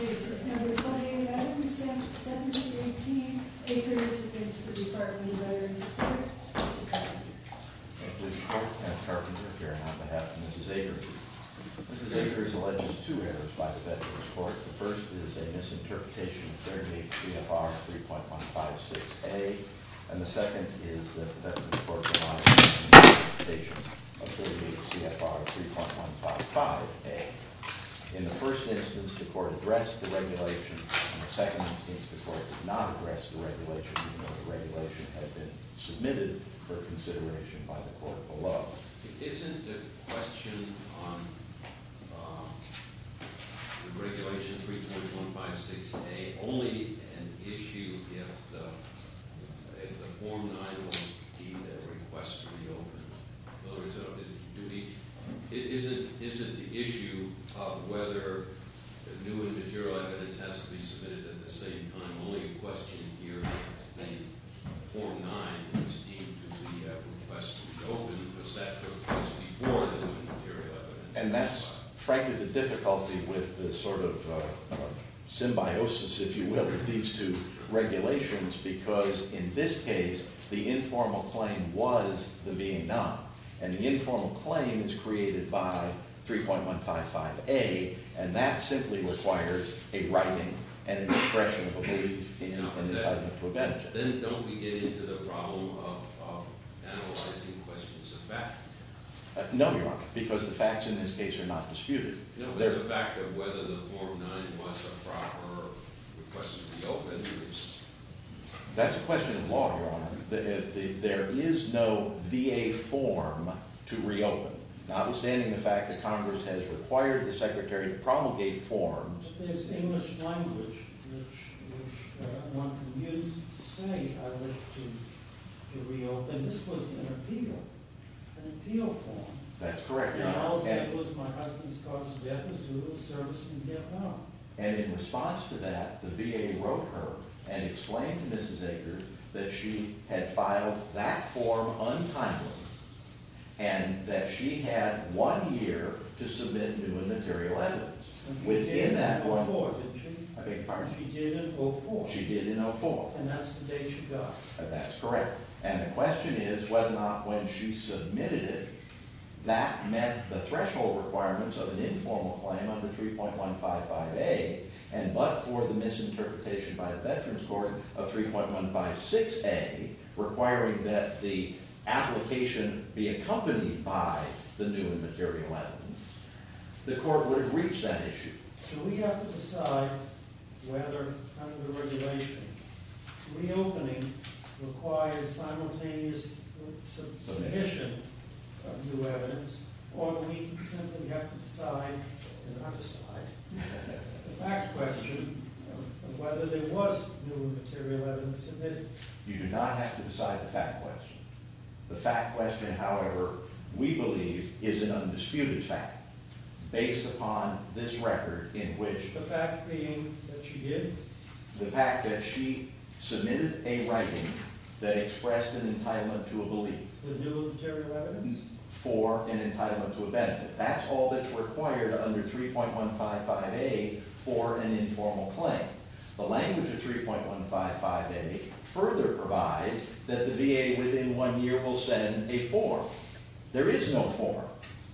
This is number 289, consent 718, Akers, against the Department of Veterans Affairs, Mr. Carpenter. Thank you, Mr. Carpenter, Karen on behalf of Mrs. Akers. Mrs. Akers alleges two errors by the Veterans Court. The first is a misinterpretation of 38 CFR 3.156A. And the second is that the Veterans Court provides a misinterpretation of 38 CFR 3.155A. In the first instance, the court addressed the regulation. In the second instance, the court did not address the regulation even though the regulation had been submitted for consideration by the court below. Isn't the question on the regulation 3.156A only an issue if the form 9 was deemed a request to be opened? And that's frankly the difficulty with the sort of symbiosis, if you will, of these two regulations. Because in this case, the informal claim was the being done. And the informal claim is created by 3.155A. And that simply requires a writing and an expression of a belief in an indictment of prevention. Then don't we get into the problem of analyzing questions of fact? No, Your Honor, because the facts in this case are not disputed. No, but the fact of whether the form 9 was a proper request to be opened is. That's a question of law, Your Honor. There is no VA form to reopen. Notwithstanding the fact that Congress has required the Secretary to promulgate forms. There's English language which one can use to say I wish to reopen. And this was an appeal, an appeal form. That's correct, Your Honor. And also it was my husband's cause of death as a result of service in Vietnam. And in response to that, the VA wrote her and explained to Mrs. Aker that she had filed that form untimely. And that she had one year to submit new and material evidence. And she did in 2004, didn't she? I beg your pardon? She did in 2004. She did in 2004. And that's the date she died. That's correct. And the question is whether or not when she submitted it, that met the threshold requirements of an informal claim under 3.155A and but for the misinterpretation by the Veterans Court of 3.156A requiring that the application be accompanied by the new and material evidence, the court would have reached that issue. So we have to decide whether under regulation reopening requires simultaneous submission of new evidence or we simply have to decide, not decide, the fact question of whether there was new and material evidence submitted. You do not have to decide the fact question. The fact question, however, we believe is an undisputed fact based upon this record in which the fact being that she did. The fact that she submitted a writing that expressed an entitlement to a belief. The new and material evidence. For an entitlement to a benefit. That's all that's required under 3.155A for an informal claim. The language of 3.155A further provides that the VA within one year will send a form. There is no form.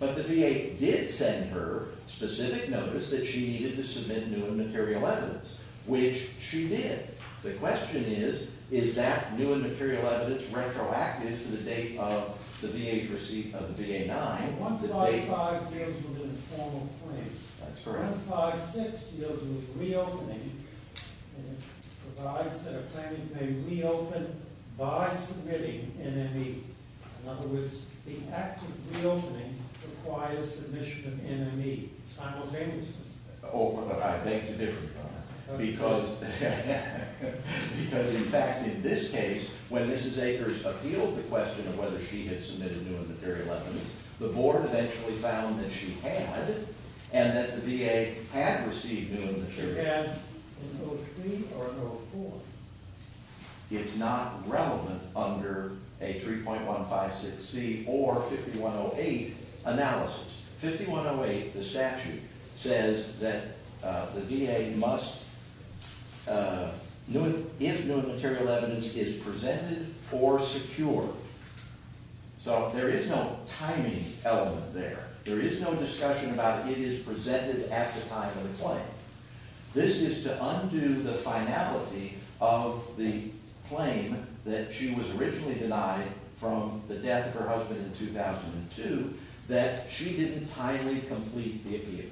But the VA did send her specific notice that she needed to submit new and material evidence, which she did. The question is, is that new and material evidence retroactive to the date of the VA's receipt of the VA-9? 3.155 deals with informal claims. 3.156 deals with reopening and provides that a claimant may reopen by submitting NME. In other words, the act of reopening requires submission of NME simultaneously. Oh, but I beg to differ, John, because in fact in this case, when Mrs. Akers appealed the question of whether she had submitted new and material evidence, the board eventually found that she had, and that the VA had received new and material evidence. She had no fee or no form. It's not relevant under a 3.156C or 5108 analysis. 5108, the statute, says that the VA must, if new and material evidence is presented or secured, So there is no timing element there. There is no discussion about it is presented at the time of the claim. This is to undo the finality of the claim that she was originally denied from the death of her husband in 2002, that she didn't timely complete the appeal.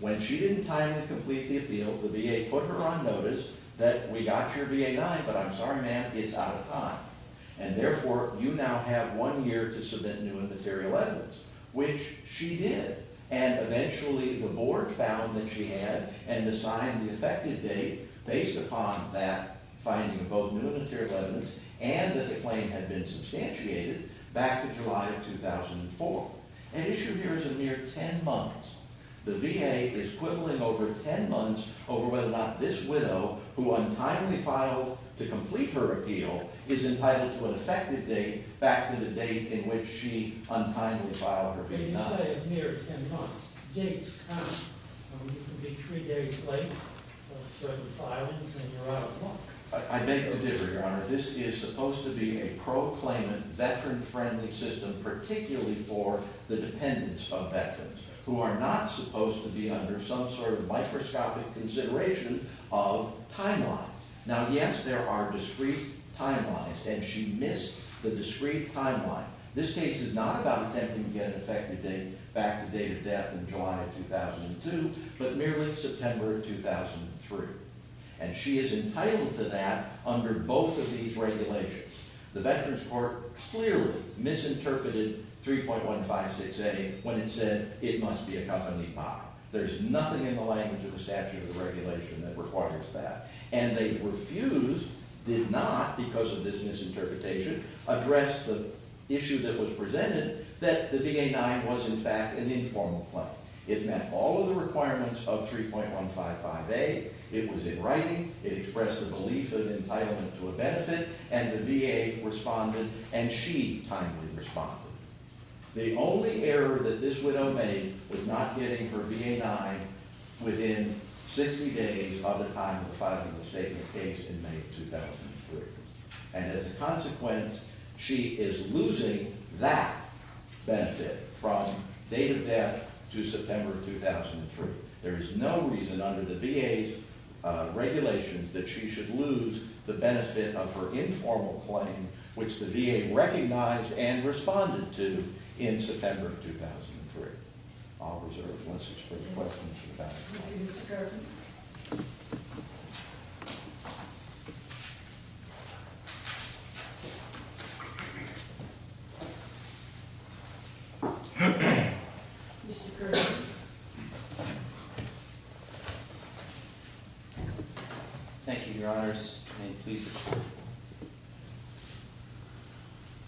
When she didn't timely complete the appeal, the VA put her on notice that we got your VA-9, but I'm sorry, ma'am, it's out of time. And therefore, you now have one year to submit new and material evidence, which she did. And eventually the board found that she had and assigned the effective date based upon that finding of both new and material evidence and that the claim had been substantiated back to July of 2004. An issue here is a mere 10 months. The VA is quibbling over 10 months over whether or not this widow, who untimely filed to complete her appeal, is entitled to an effective date back to the date in which she untimely filed her VA-9. I beg your pardon, Your Honor. This is supposed to be a pro-claimant, veteran-friendly system, particularly for the dependents of veterans who are not supposed to be under some sort of microscopic consideration of timelines. Now, yes, there are discrete timelines, and she missed the discrete timeline. This case is not about attempting to get an effective date back to the date of death in July of 2002, but merely September of 2003. And she is entitled to that under both of these regulations. The Veterans Court clearly misinterpreted 3.156A when it said it must be accompanied by. There's nothing in the language of the statute of the regulation that requires that. And they refused, did not, because of this misinterpretation, address the issue that was presented, that the VA-9 was, in fact, an informal claim. It met all of the requirements of 3.155A. It was in writing. It expressed a belief of entitlement to a benefit, and the VA responded, and she timely responded. The only error that this widow made was not getting her VA-9 within 60 days of the time of filing the statement of case in May of 2003. And as a consequence, she is losing that benefit from date of death to September of 2003. There is no reason under the VA's regulations that she should lose the benefit of her informal claim, which the VA recognized and responded to in September of 2003. I'll reserve the rest of the questions for the panel. Thank you, Mr. Kirby. Mr. Kirby. Thank you, Your Honors, and please.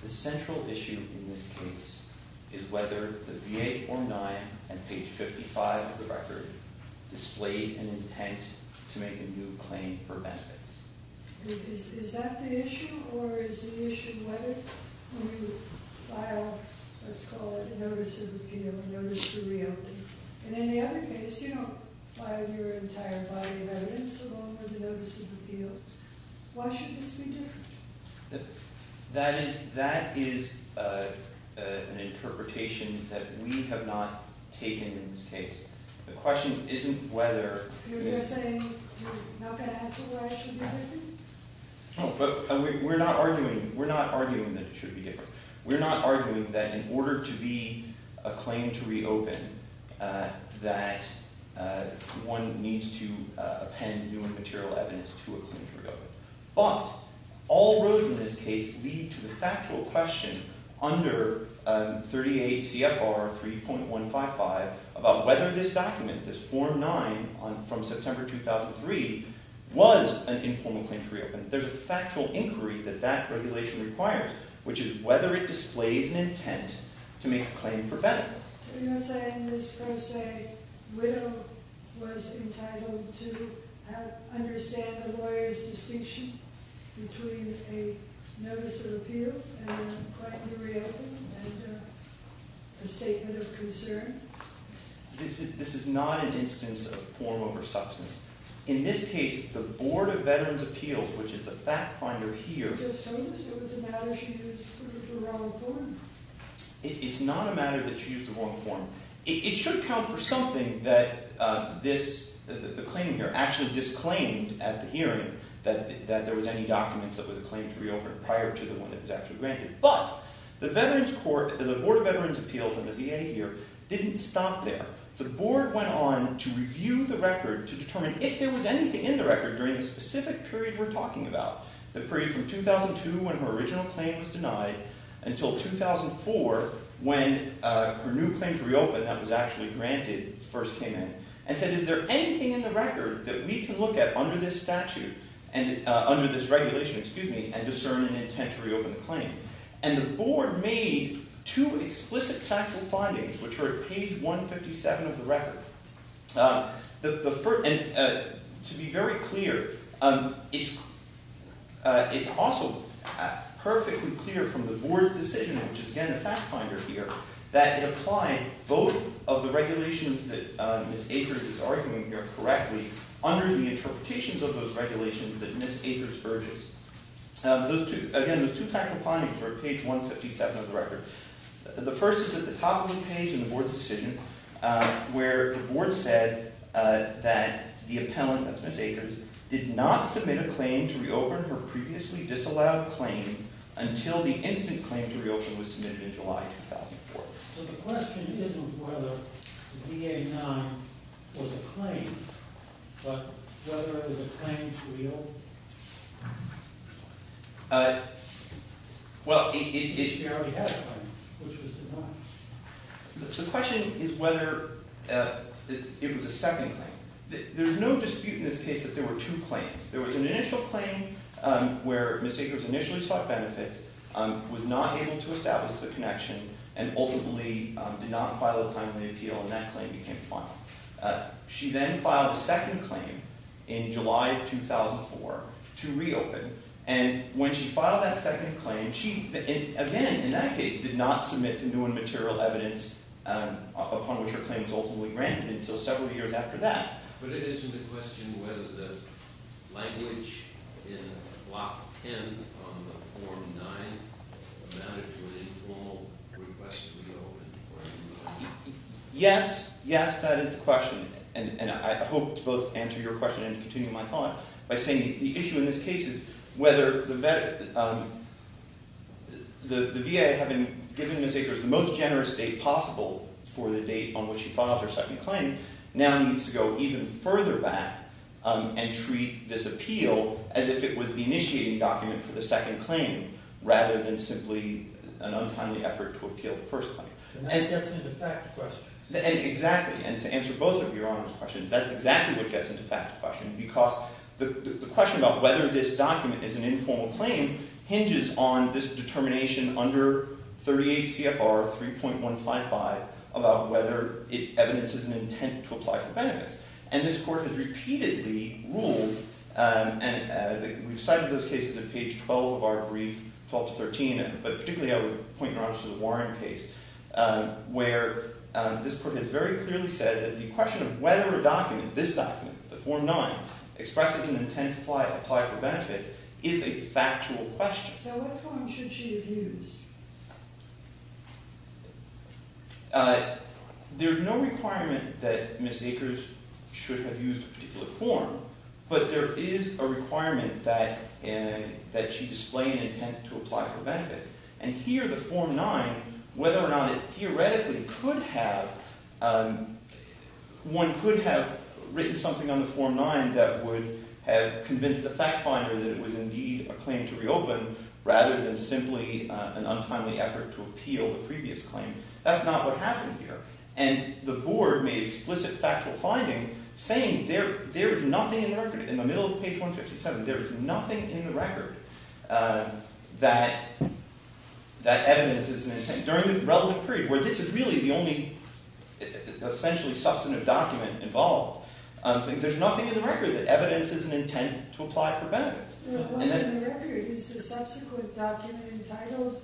The central issue in this case is whether the VA-9 and page 55 of the record display an intent to make a new claim for benefits. Is that the issue, or is the issue whether you file, let's call it a notice of appeal, a notice to reopen? And in the other case, you don't file your entire body of evidence along with a notice of appeal. Why should this be different? That is an interpretation that we have not taken in this case. The question isn't whether. You're saying you're not going to answer why it should be different? No, but we're not arguing that it should be different. But all roads in this case lead to the factual question under 38 CFR 3.155 about whether this document, this Form 9 from September 2003, was an informal claim to reopen. There's a factual inquiry that that regulation requires, which is whether it displays an intent to make a claim for benefits. So you're saying this pro se widow was entitled to understand the lawyer's distinction between a notice of appeal and a claim to reopen and a statement of concern? This is not an instance of form over substance. In this case, the Board of Veterans' Appeals, which is the fact finder here— Just told us it was a matter she used for the wrong form. It's not a matter that she used the wrong form. It should count for something that the claimant here actually disclaimed at the hearing, that there was any documents that was a claim to reopen prior to the one that was actually granted. But the Board of Veterans' Appeals and the VA here didn't stop there. The Board went on to review the record to determine if there was anything in the record during the specific period we're talking about, the period from 2002 when her original claim was denied until 2004 when her new claim to reopen that was actually granted first came in, and said, is there anything in the record that we can look at under this regulation and discern an intent to reopen the claim? And the Board made two explicit factual findings, which are at page 157 of the record. To be very clear, it's also perfectly clear from the Board's decision, which is again the fact finder here, that it applied both of the regulations that Ms. Akers is arguing here correctly under the interpretations of those regulations that Ms. Akers verges. Again, those two factual findings are at page 157 of the record. The first is at the top of the page in the Board's decision where the Board said that the appellant, that's Ms. Akers, did not submit a claim to reopen her previously disallowed claim until the instant claim to reopen was submitted in July 2004. So the question isn't whether VA-9 was a claim, but whether it was a claim to reopen. Well, it generally had a claim, which was denied. The question is whether it was a second claim. There's no dispute in this case that there were two claims. There was an initial claim where Ms. Akers initially sought benefits, was not able to establish the connection, and ultimately did not file a timely appeal, and that claim became final. She then filed a second claim in July of 2004 to reopen. And when she filed that second claim, she again in that case did not submit the new and material evidence upon which her claim was ultimately granted until several years after that. But it isn't a question whether the language in Block 10 on the Form 9 amounted to an informal request to reopen? Yes. Yes, that is the question. And I hope to both answer your question and to continue my thought by saying the issue in this case is whether the VA, having given Ms. Akers the most generous date possible for the date on which she filed her second claim, now needs to go even further back and treat this appeal as if it was the initiating document for the second claim, rather than simply an untimely effort to appeal the first claim. And that gets into fact questions. Exactly. And to answer both of Your Honor's questions, that's exactly what gets into fact questions, because the question about whether this document is an informal claim hinges on this determination under 38 CFR 3.155 about whether it evidences an intent to apply for benefits. And this Court has repeatedly ruled, and we've cited those cases in page 12 of our brief, 12 to 13, but particularly I would point Your Honor to the Warren case, where this Court has very clearly said that the question of whether a document, this document, the Form 9, expresses an intent to apply for benefits is a factual question. So what form should she have used? There's no requirement that Ms. Akers should have used a particular form, but there is a requirement that she display an intent to apply for benefits. And here the Form 9, whether or not it theoretically could have, one could have written something on the Form 9 that would have convinced the fact finder that it was indeed a claim to reopen, rather than simply an untimely effort to appeal the previous claim. That's not what happened here. And the Board made explicit factual finding saying there is nothing in the record, in the middle of page 157, there is nothing in the record that evidences an intent, during the relevant period where this is really the only essentially substantive document involved, saying there's nothing in the record that evidences an intent to apply for benefits. What's in the record is the subsequent document entitled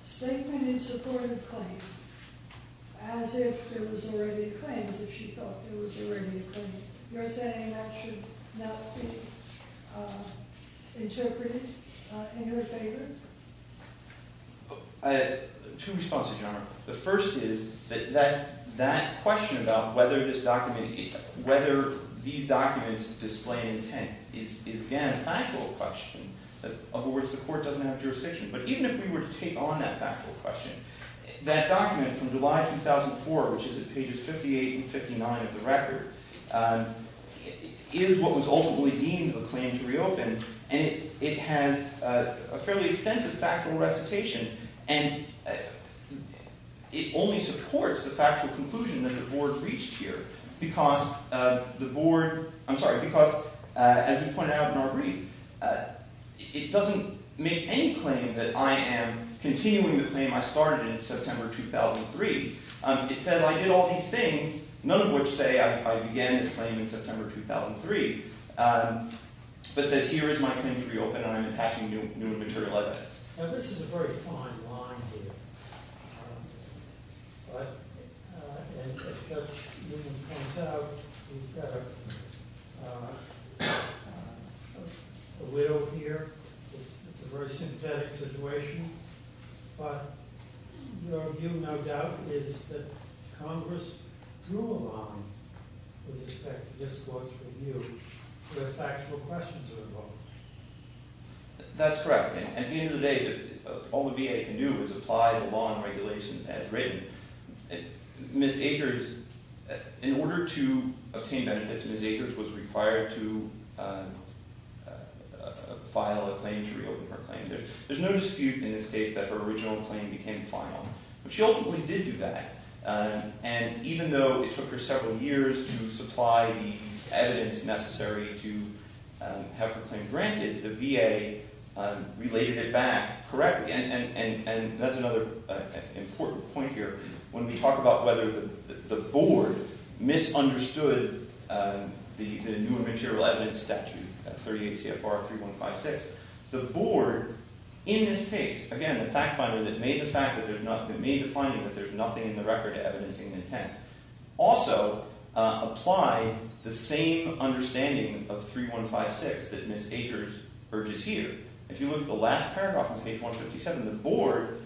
Statement in Support of Claim, as if it was already a claim, as if she thought it was already a claim. You're saying that should not be interpreted in her favor? Two responses, Your Honor. The first is that that question about whether these documents display an intent is, again, a factual question. In other words, the Court doesn't have jurisdiction. But even if we were to take on that factual question, that document from July 2004, which is at pages 58 and 59 of the record, is what was ultimately deemed a claim to reopen. And it has a fairly extensive factual recitation. And it only supports the factual conclusion that the Board reached here. Because the Board, I'm sorry, because as we pointed out in our brief, it doesn't make any claim that I am continuing the claim I started in September 2003. It says I did all these things, none of which say I began this claim in September 2003, but says here is my claim to reopen and I'm attaching new material evidence. Now this is a very fine line here. But as Judge Newman points out, we've got a widow here. It's a very sympathetic situation. But your view, no doubt, is that Congress drew a line with respect to this Court's review where factual questions are involved. That's correct. And at the end of the day, all the VA can do is apply the law and regulation as written. Ms. Akers, in order to obtain benefits, Ms. Akers was required to file a claim to reopen her claim. There's no dispute in this case that her original claim became final. She ultimately did do that. And even though it took her several years to supply the evidence necessary to have her claim granted, the VA related it back correctly. And that's another important point here. When we talk about whether the board misunderstood the new material evidence statute 38 CFR 3156, the board in this case, again, the fact finder that made the finding that there's nothing in the record also applied the same understanding of 3156 that Ms. Akers urges here. If you look at the last paragraph on page 157, the board,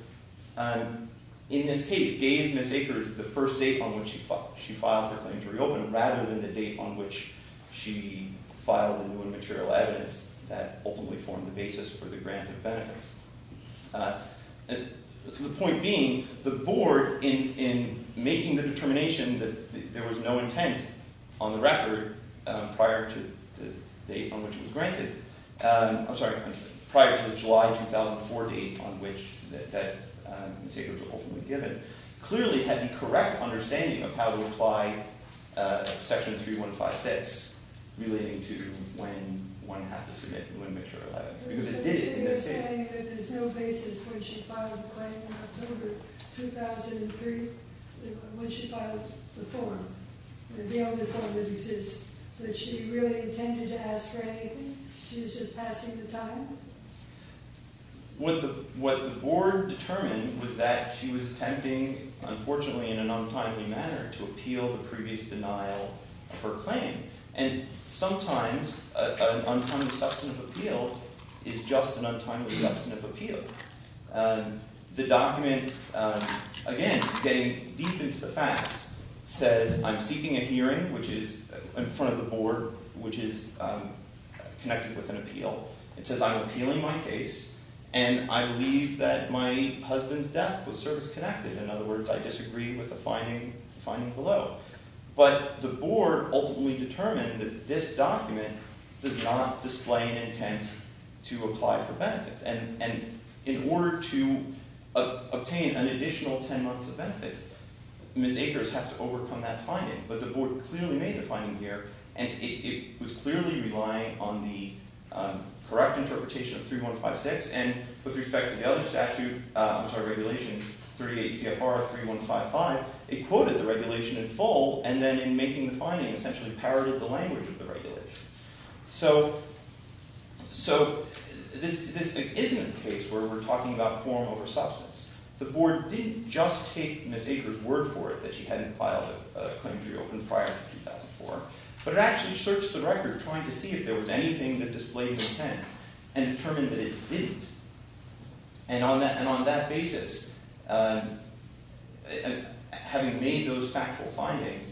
in this case, gave Ms. Akers the first date on which she filed her claim to reopen rather than the date on which she filed the new and material evidence that ultimately formed the basis for the grant of benefits. The point being, the board, in making the determination that there was no intent on the record prior to the date on which it was granted, I'm sorry, prior to the July 2004 date on which Ms. Akers was ultimately given, clearly had the correct understanding of how to apply section 3156 relating to when one has to submit new and material evidence. So you're saying that there's no basis when she filed the claim in October 2003, when she filed the form, the only form that exists, that she really intended to ask for anything? She was just passing the time? What the board determined was that she was attempting, unfortunately, in an untimely manner, to appeal the previous denial of her claim. And sometimes an untimely substantive appeal is just an untimely substantive appeal. The document, again, getting deep into the facts, says I'm seeking a hearing, which is in front of the board, which is connected with an appeal. It says I'm appealing my case and I believe that my husband's death was service-connected. In other words, I disagree with the finding below. But the board ultimately determined that this document does not display an intent to apply for benefits. And in order to obtain an additional 10 months of benefits, Ms. Akers has to overcome that finding. But the board clearly made the finding here and it was clearly relying on the correct interpretation of 3156. And with respect to the other regulation, 38 CFR 3155, it quoted the regulation in full and then in making the finding essentially parroted the language of the regulation. So this isn't a case where we're talking about form over substance. The board didn't just take Ms. Akers' word for it that she hadn't filed a claim to reopen prior to 2004, but it actually searched the record trying to see if there was anything that displayed intent and determined that it didn't. And on that basis, having made those factual findings,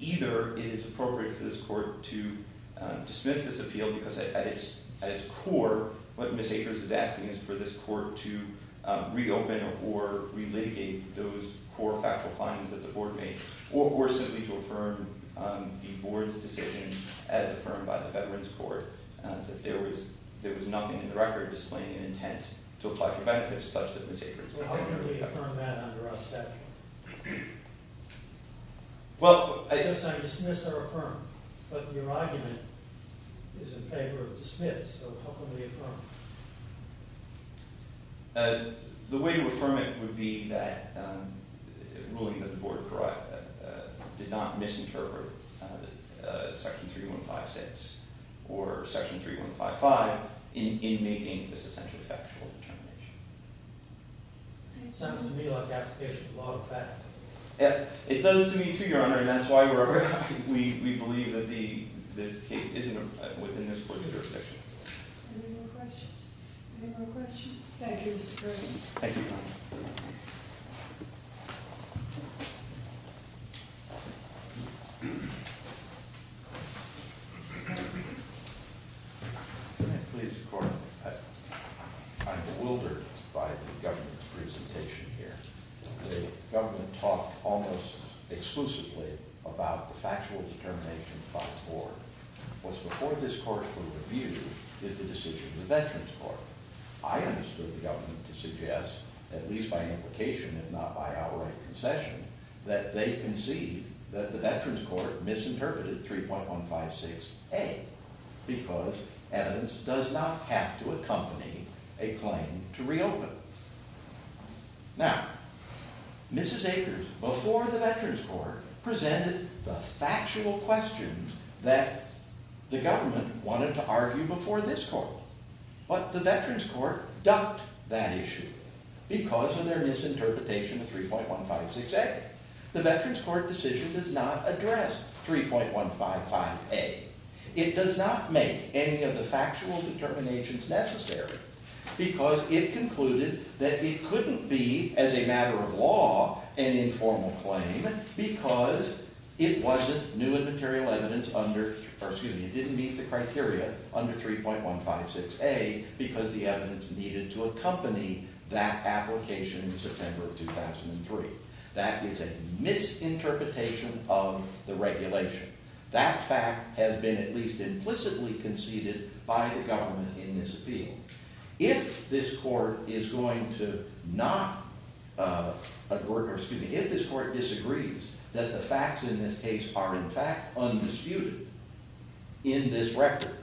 either it is appropriate for this court to dismiss this appeal because at its core, what Ms. Akers is asking is for this court to reopen or relitigate those core factual findings that the board made, or simply to affirm the board's decision as affirmed by the Veterans Court that there was nothing in the record displaying an intent to apply for benefits such that Ms. Akers would not apply for benefits. How can we affirm that under our statute? Well, I... You're saying dismiss or affirm. But your argument is in favor of dismiss, so how can we affirm? The way to affirm it would be that ruling that the board did not misinterpret Section 3156 or Section 3155 in making this essentially factual determination. Sounds to me like application of law of fact. It does to me too, Your Honor, and that's why we believe that this case is within this court's jurisdiction. Any more questions? Any more questions? Thank you, Mr. Kirby. Thank you, Your Honor. Please, Your Honor, I'm bewildered by the government's presentation here. The government talked almost exclusively about the factual determination by the board. What's before this court for review is the decision of the Veterans Court. I understood the government to suggest, at least by implication if not by outright concession, that they conceived that the Veterans Court misinterpreted 3.156A because evidence does not have to accompany a claim to reopen. Now, Mrs. Akers, before the Veterans Court, presented the factual questions that the government wanted to argue before this court. But the Veterans Court ducked that issue because of their misinterpretation of 3.156A. The Veterans Court decision does not address 3.155A. It does not make any of the factual determinations necessary because it concluded that it couldn't be, as a matter of law, an informal claim because it didn't meet the criteria under 3.156A because the evidence needed to accompany that application in September of 2003. That is a misinterpretation of the regulation. That fact has been at least implicitly conceded by the government in this appeal. If this court disagrees that the facts in this case are in fact undisputed in this record,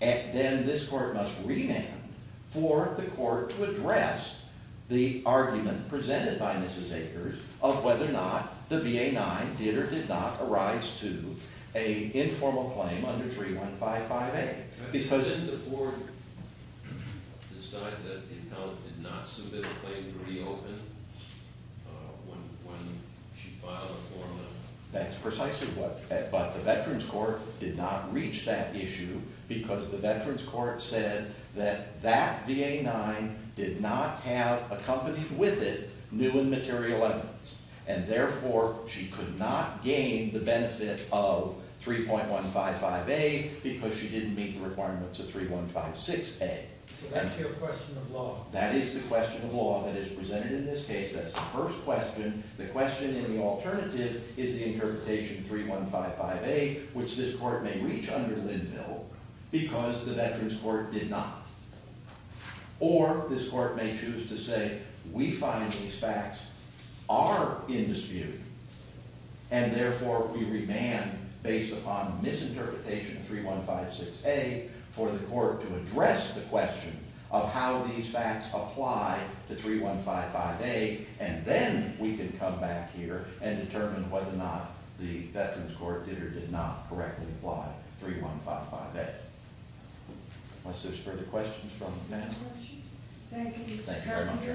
then this court must remand for the court to address the argument presented by Mrs. Akers of whether or not the VA-9 did or did not arise to an informal claim under 3.155A. Because... Didn't the court decide that it held that it did not submit a claim to reopen when she filed a form of... That's precisely what... But the Veterans Court did not reach that issue because the Veterans Court said that that VA-9 did not have accompanied with it due and material evidence, and therefore she could not gain the benefit of 3.155A because she didn't meet the requirements of 3.156A. So that's your question of law. That is the question of law that is presented in this case. That's the first question. The question in the alternative is the interpretation 3.155A, which this court may reach under Linville because the Veterans Court did not. Or this court may choose to say, we find these facts are in dispute, and therefore we remand based upon misinterpretation of 3.156A for the court to address the question of how these facts apply to 3.155A, and then we can come back here and determine whether or not the Veterans Court did or did not correctly apply 3.155A. Unless there's further questions from the panel. No questions. Thank you, Mr. Carpenter. Thank you very much.